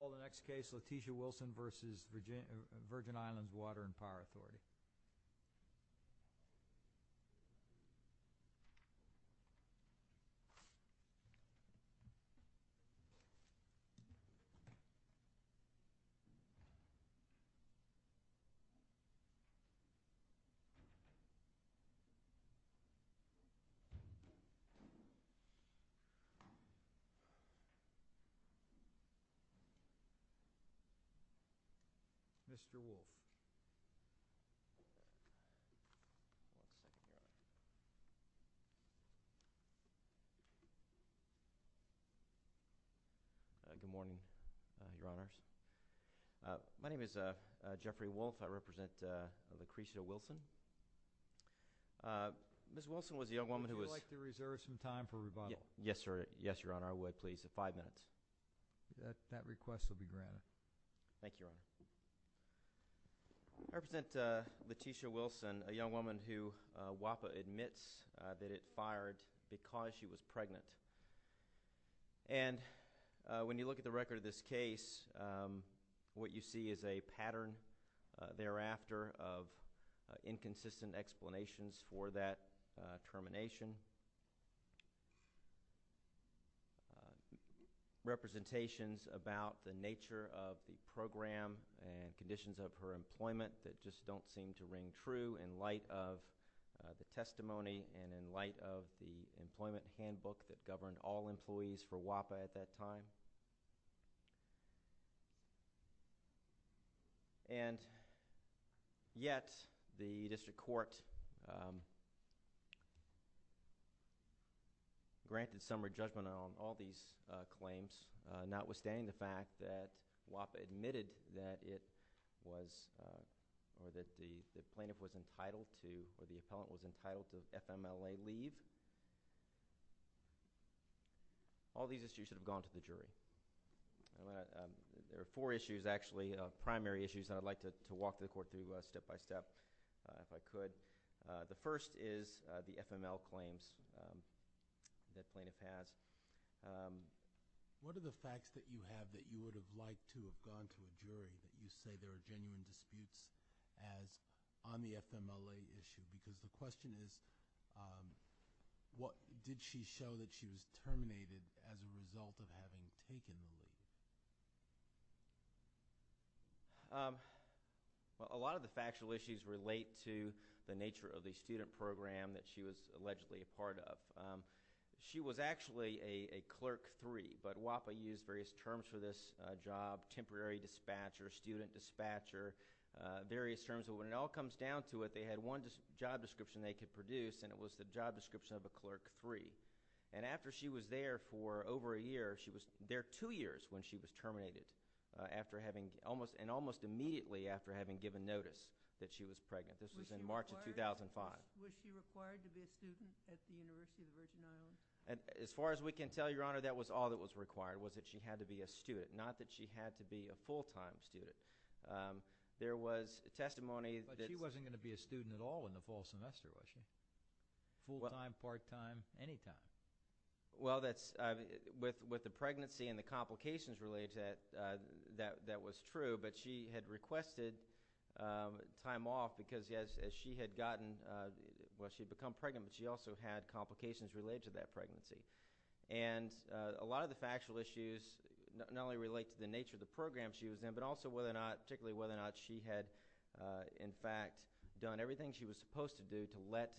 v. VIRGIN Islands Water and Power Authority. Mr. Wolf. Good morning, Your Honors. My name is John Wolf. I represent Letitia Wilson, a young woman who WAPA admits that it fired because she was pregnant. And when you look at the record of this case, what you see is a pattern of inconsistent explanations for that termination, representations about the nature of the program and conditions of her employment that just don't seem to ring true in light of the testimony and in light of the employment handbook that governed all employees for WAPA at that time. And yet, the District Court granted summary judgment on all these claims, notwithstanding the fact that WAPA admitted that it was, or that the plaintiff was entitled to, or the appellant was entitled to FMLA leave. All these issues should have gone to the jury. There are four issues, actually, primary issues, that I'd like to walk the Court through step-by-step, if I could. The first is the FMLA claims that the plaintiff has. What are the facts that you have that you would have liked to have gone to a jury that you say there are genuine disputes as on the FMLA issue? Because the question is, did she show that she was terminated as a result of having taken the leave? A lot of the factual issues relate to the nature of the student program that she was allegedly a part of. She was actually a Clerk III, but WAPA used various terms for this job—temporary dispatcher, student dispatcher, various terms. But when it all comes down to it, they had one job description they could produce, and it was the job description of when she was terminated, and almost immediately after having given notice that she was pregnant. This was in March of 2005. Was she required to be a student at the University of the Virgin Islands? As far as we can tell, Your Honor, that was all that was required, was that she had to be a student, not that she had to be a full-time student. There was testimony that— But she wasn't going to be a student at all in the fall semester, was she? Full-time, part-time, any time? Well, with the pregnancy and the complications related to that, that was true, but she had requested time off because as she had gotten—well, she had become pregnant, but she also had complications related to that pregnancy. And a lot of the factual issues not only relate to the nature of the program she was in, but also whether or not—particularly whether or not she had, in fact, done everything she was supposed to do to let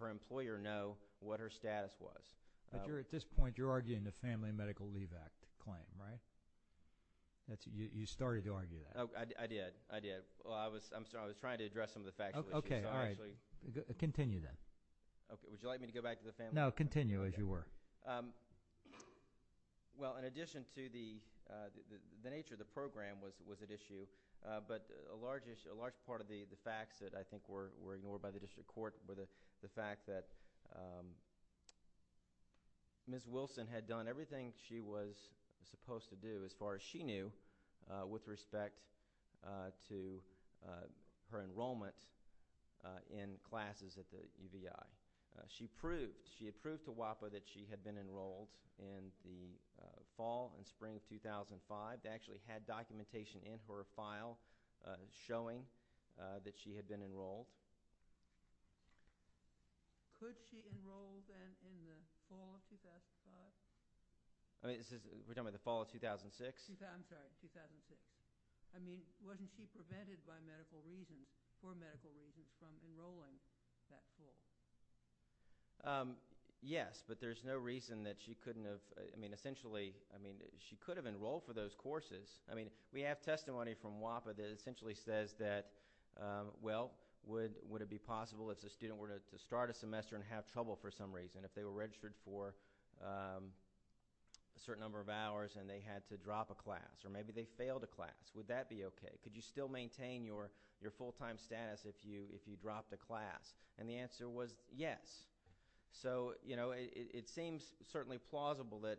her employer know what her status was. But at this point, you're arguing the Family Medical Leave Act claim, right? You started to argue that. I did, I did. Well, I'm sorry, I was trying to address some of the factual issues. Okay, all right. Continue then. Would you like me to go back to the Family Medical Leave Act? No, continue as you were. Well, in addition to the nature of the program was at issue, but a large part of the facts that I think were ignored by the District Court were the fact that Ms. Wilson had done everything she was supposed to do, as far as she knew, with respect to her enrollment in classes at the UVI. She had proved to WAPA that she had been enrolled in the fall and Could she enroll then in the fall of 2005? We're talking about the fall of 2006? I'm sorry, 2006. I mean, wasn't she prevented by medical reasons, for medical reasons, from enrolling that fall? Yes, but there's no reason that she couldn't have—I mean, essentially, she could have enrolled for those courses. I mean, we have testimony from WAPA that essentially says that, well, would it be possible if the student were to start a semester and have trouble for some reason, if they were registered for a certain number of hours and they had to drop a class, or maybe they failed a class, would that be okay? Could you still maintain your full-time status if you dropped a class? And the answer was yes. So, you know, it seems certainly plausible that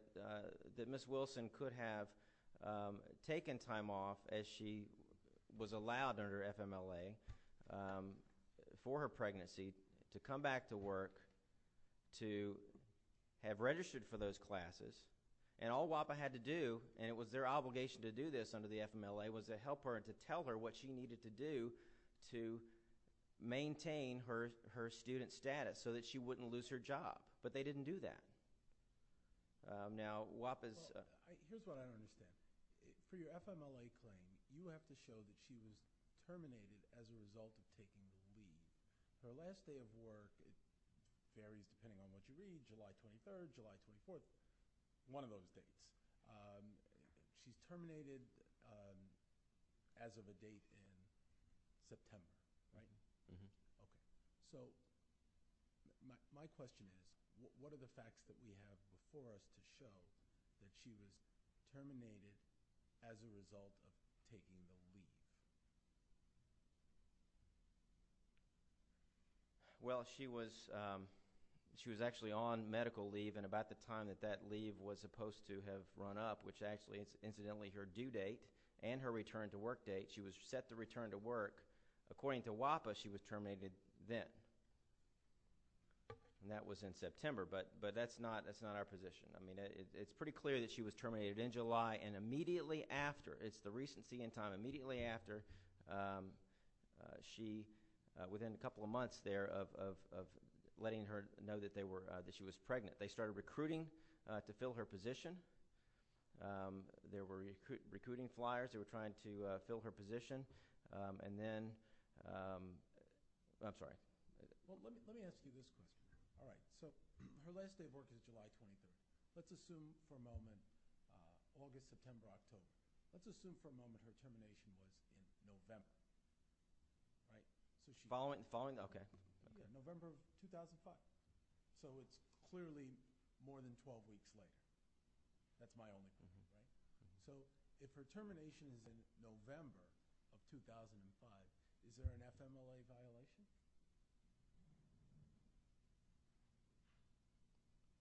Ms. Wilson could have taken time off as she was allowed under FMLA for her pregnancy to come back to work to have registered for those classes. And all WAPA had to do, and it was their obligation to do this under the FMLA, was to help her and to tell her what she needed to do to maintain her student status so that she wouldn't lose her job. But they didn't do that. Now, WAPA's— Here's what I don't understand. For your FMLA claim, you have to show that she was terminated as a result of taking the leave. Her last day of work varies depending on what you read, July 23rd, July 24th, one of those dates. She's terminated as of a date in September, right? Mm-hmm. So, my question is, what are the facts that we have before us to show that she was terminated as a result of taking the leave? Well, she was actually on medical leave, and about the time that that leave was supposed to have run up, which actually is incidentally her due date and her return to work date, that she was set to return to work, according to WAPA, she was terminated then. And that was in September, but that's not our position. I mean, it's pretty clear that she was terminated in July, and immediately after—it's the recent see-in time—immediately after she, within a couple of months there of letting her know that she was pregnant, they started recruiting to fill her position. They were recruiting flyers. They were trying to fill her position, and then—I'm sorry. Well, let me ask you this question. All right. So, her last day of work is July 23rd. Let's assume for a moment, August, September, October. Let's assume for a moment her termination was in November, right? Following the—okay. November of 2005. So, it's clearly more than 12 weeks later. That's my only conclusion, right? So, if her termination is in November of 2005, is there an FMLA violation?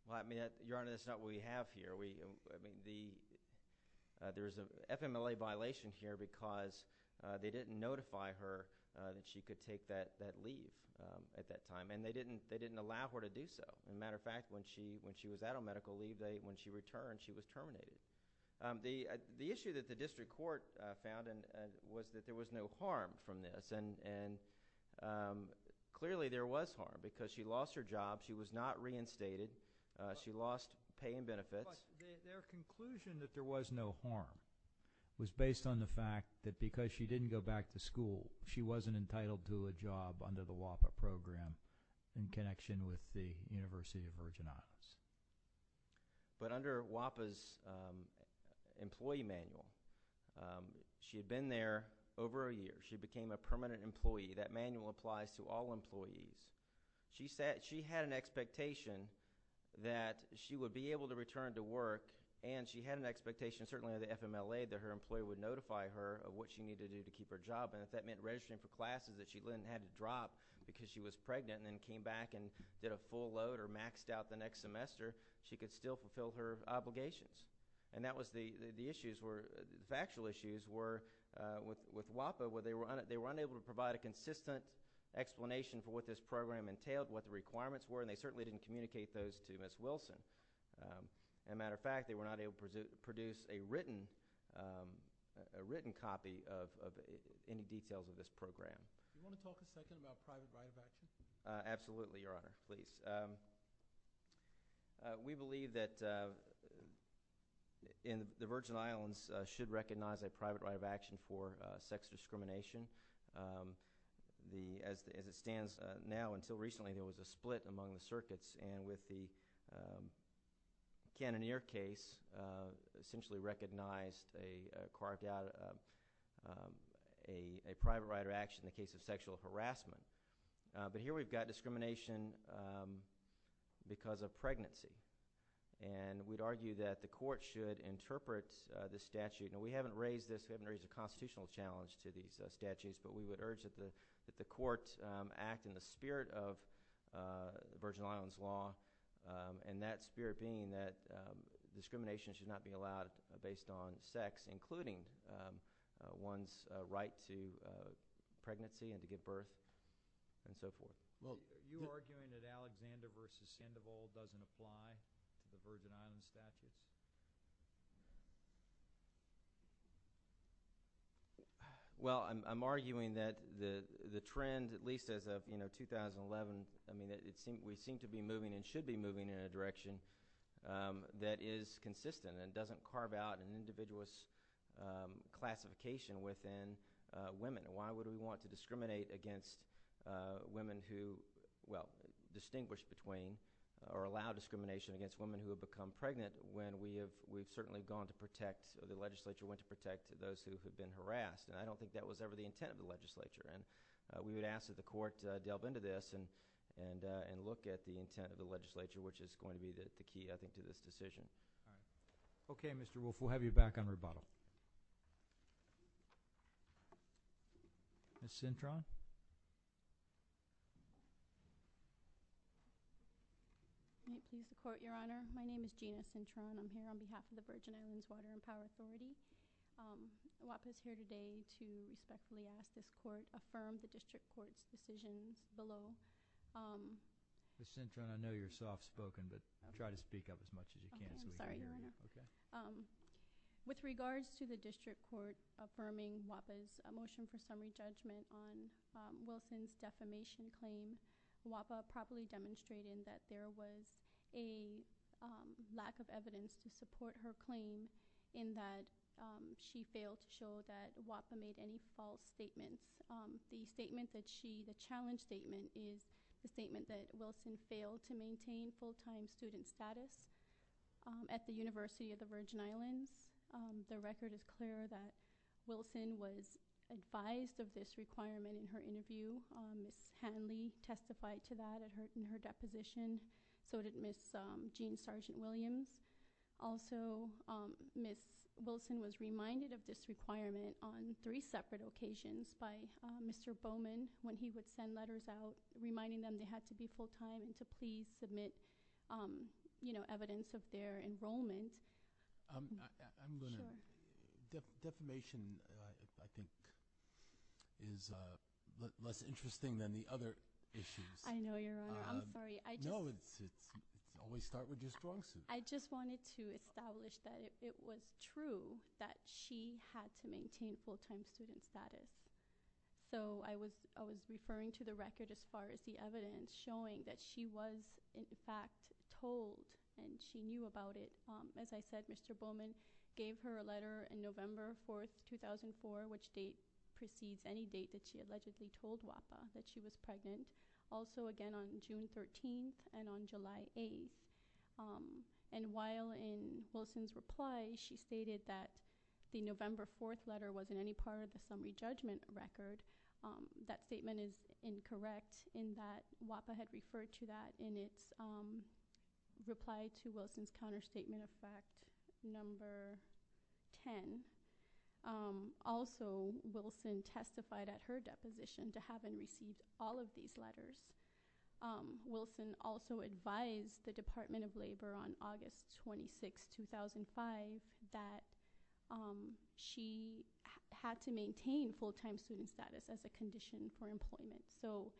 Well, I mean, Your Honor, that's not what we have here. We—I mean, the—there's an FMLA violation here because they didn't notify her that she could take that leave at that time, and they didn't allow her to do so. As a matter of fact, when she was at her medical leave, when she returned, she was terminated. The issue that the district court found was that there was no harm from this, and clearly there was harm because she lost her job. She was not reinstated. She lost pay and benefits. But their conclusion that there was no harm was based on the fact that because she didn't go back to school, she wasn't entitled to a job under the WAPA program in connection with the University of Virginia. But under WAPA's employee manual, she had been there over a year. She became a permanent employee. That manual applies to all employees. She had an expectation that she would be able to return to work, and she had an expectation, certainly under the FMLA, that her employer would notify her of what she needed to do to keep her job, and if that meant registering for classes that she then had to drop because she was pregnant and then came back and did a full load or maxed out the next semester, she could still fulfill her obligations. And that was the issues were—the factual issues were with WAPA, where they were unable to provide a consistent explanation for what this program entailed, what the requirements were, and they certainly didn't communicate those to Ms. Wilson. As a matter of fact, they were not able to produce a written copy of any details of this program. Do you want to talk a second about private right of action? Absolutely, Your Honor. Please. We believe that the Virgin Islands should recognize a private right of action for sex discrimination. As it stands now until recently, there was a split among the circuits, and with the Cannoneer case, essentially recognized, they carved out a private right of action in the case of sexual harassment. But here we've got discrimination because of pregnancy, and we'd argue that the court should interpret this statute. Now, we haven't raised this—we haven't raised a constitutional challenge to these statutes, but we would urge that the court act in the spirit of Virgin Islands law, and that spirit being that discrimination should not be allowed based on sex, including one's right to pregnancy and to give birth and so forth. Well, you're arguing that Alexander v. Sandoval doesn't apply to the Virgin Islands Well, I'm arguing that the trend, at least as of, you know, 2011, I mean, we seem to be moving and should be moving in a direction that is consistent and doesn't carve out an individualist classification within women. Why would we want to discriminate against women who—well, distinguish between or allow discrimination against women who have become those who have been harassed? And I don't think that was ever the intent of the legislature. And we would ask that the court delve into this and look at the intent of the legislature, which is going to be the key, I think, to this decision. All right. Okay, Mr. Wolfe, we'll have you back on rebuttal. Ms. Cintron? May it please the Court, Your Honor? My name is Gina Cintron. I'm here on behalf of the WAPA's here today to respectfully ask this Court affirm the District Court's decisions below. Ms. Cintron, I know you're soft-spoken, but try to speak up as much as you can so we can hear you. I'm sorry, Your Honor. Okay. With regards to the District Court affirming WAPA's motion for summary judgment on Wilson's defamation claim, WAPA properly demonstrated that there was a lack of evidence to support her claim in that she failed to show that WAPA made any false statements. The challenge statement is the statement that Wilson failed to maintain full-time student status at the University of the Virgin Islands. The record is clear that Wilson was advised of this requirement in her interview. Ms. Hanley testified to that in her deposition. So did Ms. Jean Sargent-Williams. Also, Ms. Wilson was reminded of this requirement on three separate occasions by Mr. Bowman when he would send letters out reminding them they had to be full-time and to please submit evidence of their enrollment. I'm going to- Sure. Defamation, I think, is less interesting than the other issues. I know, Your Honor. I'm sorry. No, it's always start with your strong suit. I just wanted to establish that it was true that she had to maintain full-time student status. So I was referring to the record as far as the evidence showing that she was, in fact, told and she knew about it. As I said, Mr. Bowman gave her a letter in November 4, 2004, which precedes any date that she allegedly told WAPA that she was pregnant. Also, again, on June 13th and on July 8th. And while in Wilson's reply, she stated that the November 4th letter wasn't any part of the summary judgment record, that statement is incorrect in that WAPA had referred to that in its reply to Wilson's counterstatement of fact number 10. Also, Wilson testified at her deposition to having received all of these letters. Wilson also advised the Department of Labor on August 26, 2005, that she had to maintain full-time student status as a condition for employment. So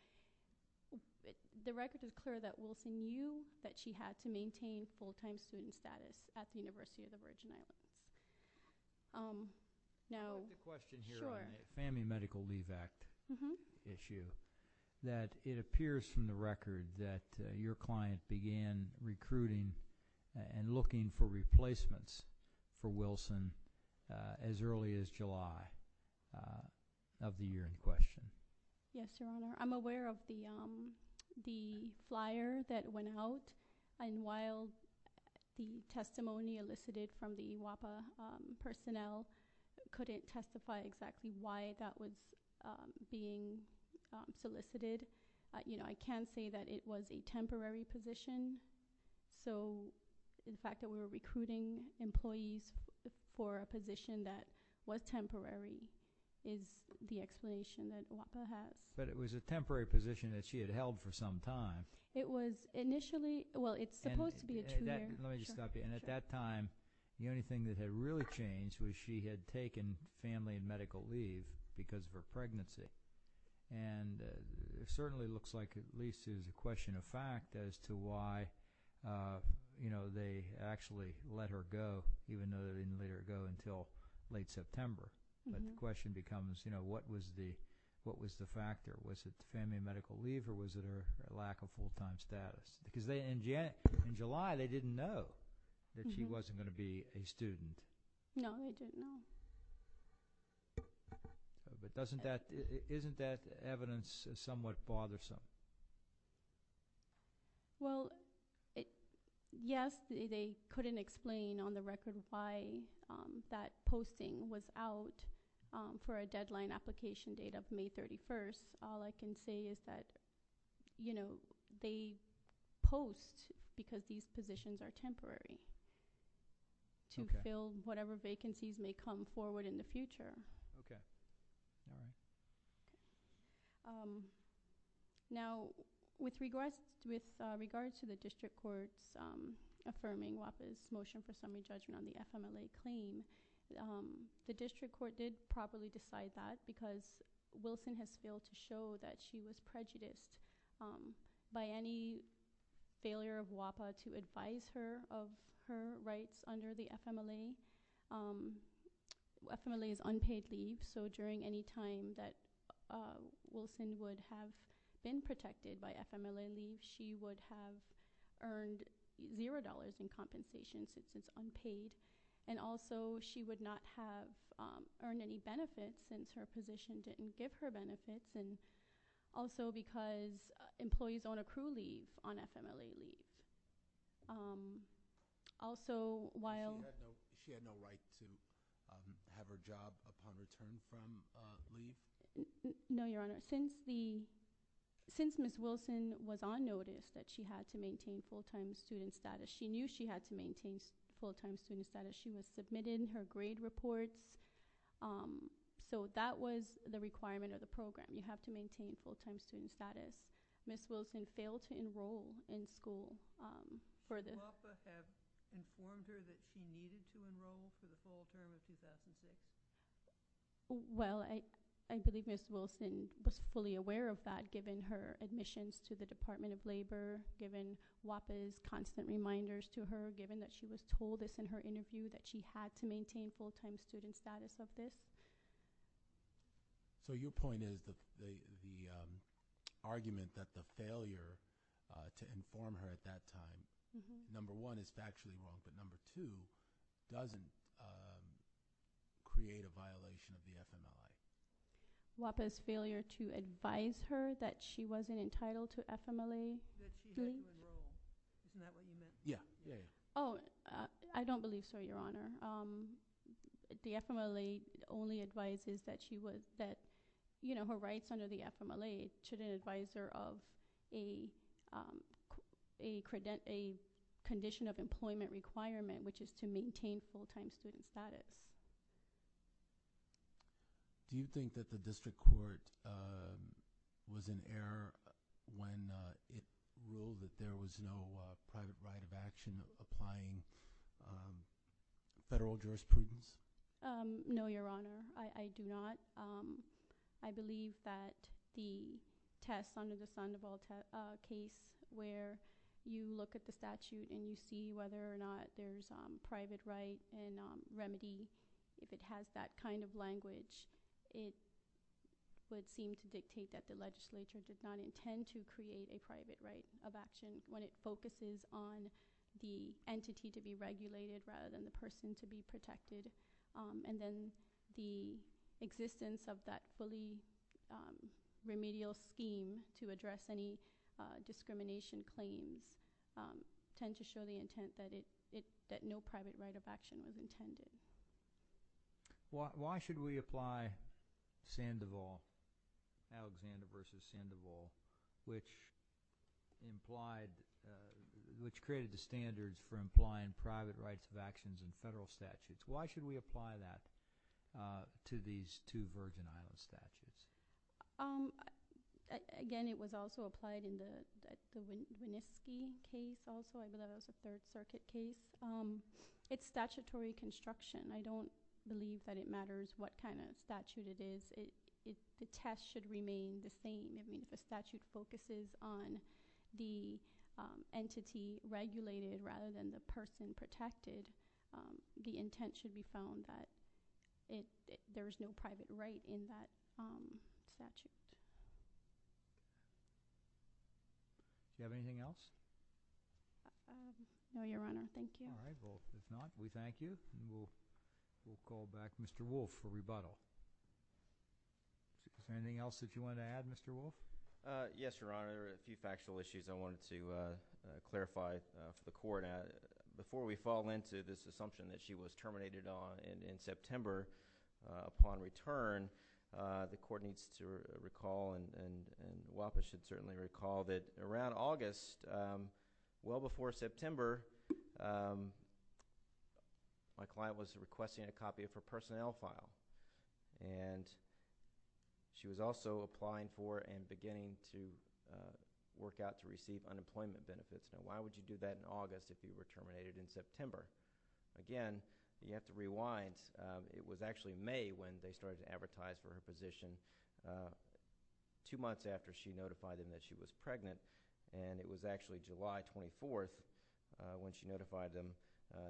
the record is clear that Wilson knew that she had to maintain full-time student status at the University of the Virgin Islands. I have a question here on the Family Medical Leave Act issue. It appears from the record that your client began recruiting and looking for replacements for Wilson as early as July of the year in question. Yes, Your Honor. I'm aware of the flyer that went out. And while the testimony elicited from the WAPA personnel couldn't testify exactly why that was being solicited, I can say that it was a temporary position. So the fact that we were recruiting employees for a position that was temporary is the explanation that WAPA has. But it was a temporary position that she had held for some time. It was initially... well, it's supposed to be a two-year... Let me just stop you. And at that time, the only thing that had really changed was she had taken family and medical leave because of her pregnancy. And it certainly looks like at least it is a question of fact as to why they actually let her go, even though they didn't let her go until late September. But the question becomes, you know, what was the factor? Was it family and medical leave or was it her lack of full-time status? Because in July, they didn't know that she wasn't going to be a student. No, they didn't know. But isn't that evidence somewhat bothersome? Well, yes, they couldn't explain on the record why that posting was out for a deadline application date of May 31st. All I can say is that, you know, they post because these positions are temporary to fill whatever vacancies may come forward in the future. Okay. All right. Now, with regards to the district court's affirming WAPA's motion for summary judgment on the FMLA claim, the district court did properly decide that because Wilson has failed to show that she was prejudiced by any failure of WAPA to advise her of her rights under the FMLA. FMLA is unpaid leave. So during any time that Wilson would have been protected by FMLA leave, she would have earned $0 in compensation since it's unpaid. And also, she would not have earned any benefits since her position didn't give her benefits and also because employees own accrued leave on FMLA leave. Also, while She had no right to have her job upon return from leave? No, Your Honor. Since Ms. Wilson was on notice that she had to maintain full-time student status, she knew she had to maintain full-time student status. She was submitted her grade reports. So that was the requirement of the program. You have to maintain full-time student status. Ms. Wilson failed to enroll in school. Did WAPA inform her that she needed to enroll for the full term of 2006? Well, I believe Ms. Wilson was fully aware of that given her admissions to the Department of Labor, given WAPA's constant reminders to her, given that she was told this in her interview that she had to maintain full-time student status of this. So your point is the argument that the failure to inform her at that time, number one, is factually wrong, but number two, doesn't create a violation of the FMLA? WAPA's failure to advise her that she wasn't entitled to FMLA? That she had to enroll. Isn't that what you meant? Yeah. Oh, I don't believe so, Your Honor. The FMLA only advises that she was, that, you know, her rights under the FMLA should advise her of a condition of employment requirement, which is to maintain full-time student status. Do you think that the district court was in error when it ruled that there was no private right of action applying federal jurisprudence? No, Your Honor. I do not. I believe that the test under the Sandoval case where you look at the statute and you see whether or not there's private right and remedy, if it has that kind of language, it would seem to dictate that the legislature did not intend to create a private right of action when it focuses on the entity to be regulated rather than the person to be protected, and then the existence of that fully remedial scheme to address any discrimination claims tend to show the intent that no private right of action was intended. Why should we apply Sandoval, Alexander v. Sandoval, which implied, which created the standards for implying private rights of actions in federal statutes? Why should we apply that to these two Virgin Islands statutes? Again, it was also applied in the Winooski case also. I believe that was a Third Circuit case. It's statutory construction. I don't believe that it matters what kind of statute it is. The test should remain the same. If a statute focuses on the entity regulated rather than the person protected, the intent should be found that there is no private right in that statute. Do you have anything else? No, Your Honor. Thank you. All right. Well, if not, we thank you. We'll call back Mr. Wolfe for rebuttal. Is there anything else that you wanted to add, Mr. Wolfe? Yes, Your Honor. A few factual issues I wanted to clarify for the Court. Before we fall into this assumption that she was terminated in September upon return, the Court needs to clarify that well before September, my client was requesting a copy of her personnel file. She was also applying for and beginning to work out to receive unemployment benefits. Now, why would you do that in August if you were terminated in September? Again, you have to rewind. It was actually May when they started to advertise for her position, two months after she notified them that she was pregnant, and it was actually July 24th when she notified them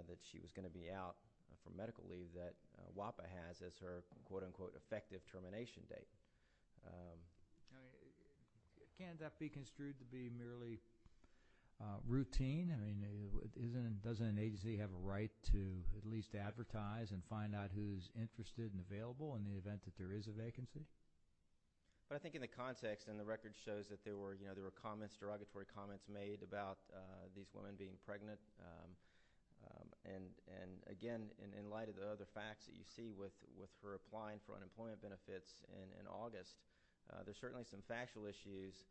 that she was going to be out for medical leave that WAPA has as her, quote-unquote, effective termination date. Can't that be construed to be merely routine? I mean, doesn't an agency have a right to at least advertise and find out who's interested and available in the event that there is a vacancy? But I think in the context, and the record shows that there were derogatory comments made about these women being pregnant, and again, in light of the other facts that you see with her applying for unemployment benefits in August, there are certainly some factual issues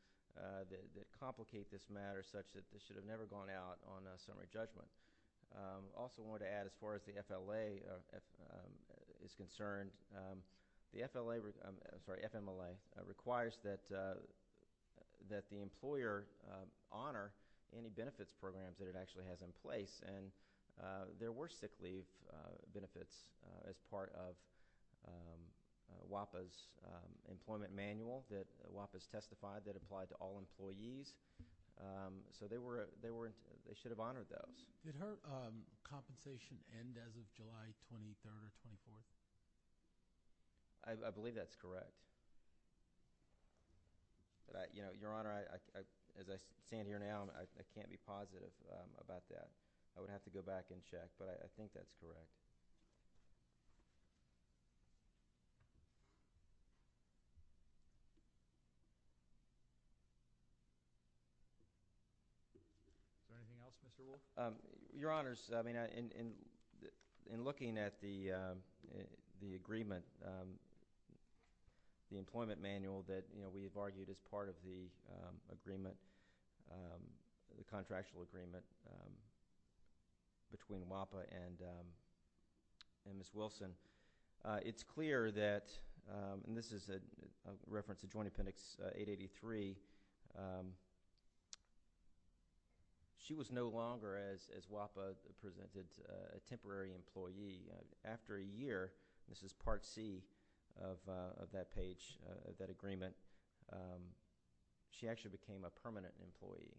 that complicate this matter such that this should have never gone out on a summary judgment. Also, I wanted to add, as far as the FLA is concerned, the FMLA requires that the employer honor any benefits programs that it actually has in place, and there were sick leave benefits as part of WAPA's employment manual that WAPA has testified that applied to all employees, so they should have honored those. Did her compensation end as of July 23rd or 24th? I believe that's correct. Your Honor, as I stand here now, I can't be positive about that. I would have to go back and check, but I think that's correct. Is there anything else, Mr. Wolf? Your Honor, in looking at the agreement, the employment manual that we have argued is part of the contractual agreement between WAPA and Ms. Wilson, it's clear that, and this is a reference to Joint Appendix 883, she was no longer, as WAPA presented, a temporary employee. After a year, this is Part C of that page, of that agreement, she actually became a permanent employee,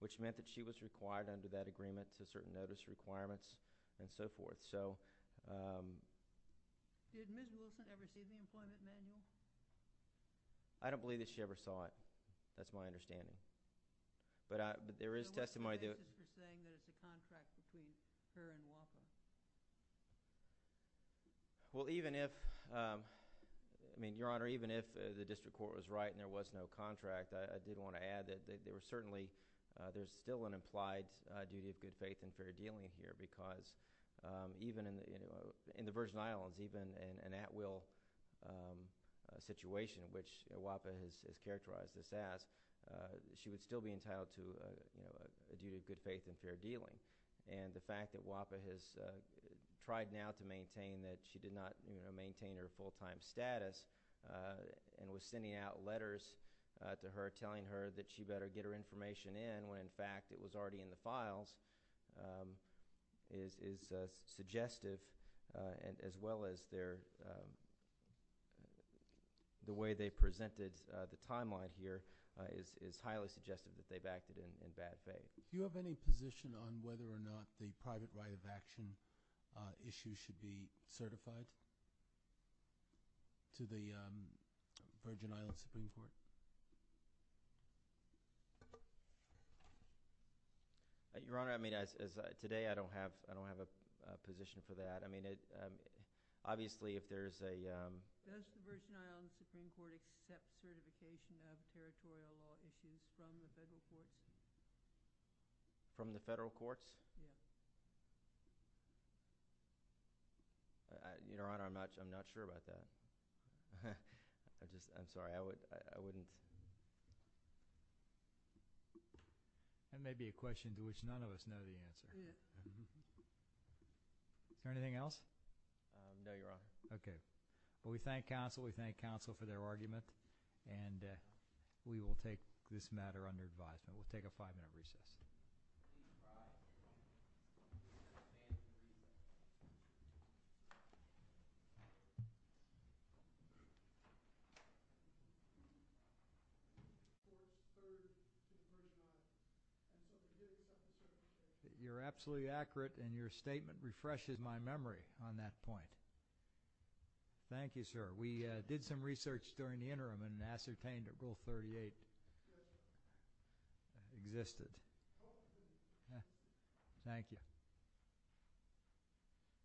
which meant that she was required under that agreement to certain notice requirements and so forth. Did Ms. Wilson ever see the employment manual? I don't believe that she ever saw it. That's my understanding. But there is testimony that— So what's the basis for saying that it's a contract between her and WAPA? Well, even if, I mean, Your Honor, even if the district court was right and there was no contract, I did want to add that there were certainly, there's still an implied duty of good faith and fair dealing here because even in the Virgin Islands, even in an at-will situation, which WAPA has characterized this as, she would still be entitled to a duty of good faith and fair dealing. And the fact that WAPA has tried now to maintain that she did not maintain her full-time status and was sending out letters to her telling her that she better get her information in when, in fact, it was already in the files is suggestive, as well as the way they presented the timeline here is highly suggestive that they backed it in bad faith. Do you have any position on whether or not the private right of action issue should be Your Honor, I mean, today I don't have a position for that. I mean, obviously if there's a— Does the Virgin Islands Supreme Court accept certification of territorial law issues from the federal courts? From the federal courts? Yes. Your Honor, I'm not sure about that. I just, I'm sorry, I wouldn't— That may be a question to which none of us know the answer. Yeah. Is there anything else? No, Your Honor. Okay. Well, we thank counsel, we thank counsel for their argument, and we will take this matter under advisement. We'll take a five-minute recess. You're absolutely accurate, and your statement refreshes my memory on that point. Thank you, sir. We did some research during the interim and ascertained that Rule 38 existed. Thank you.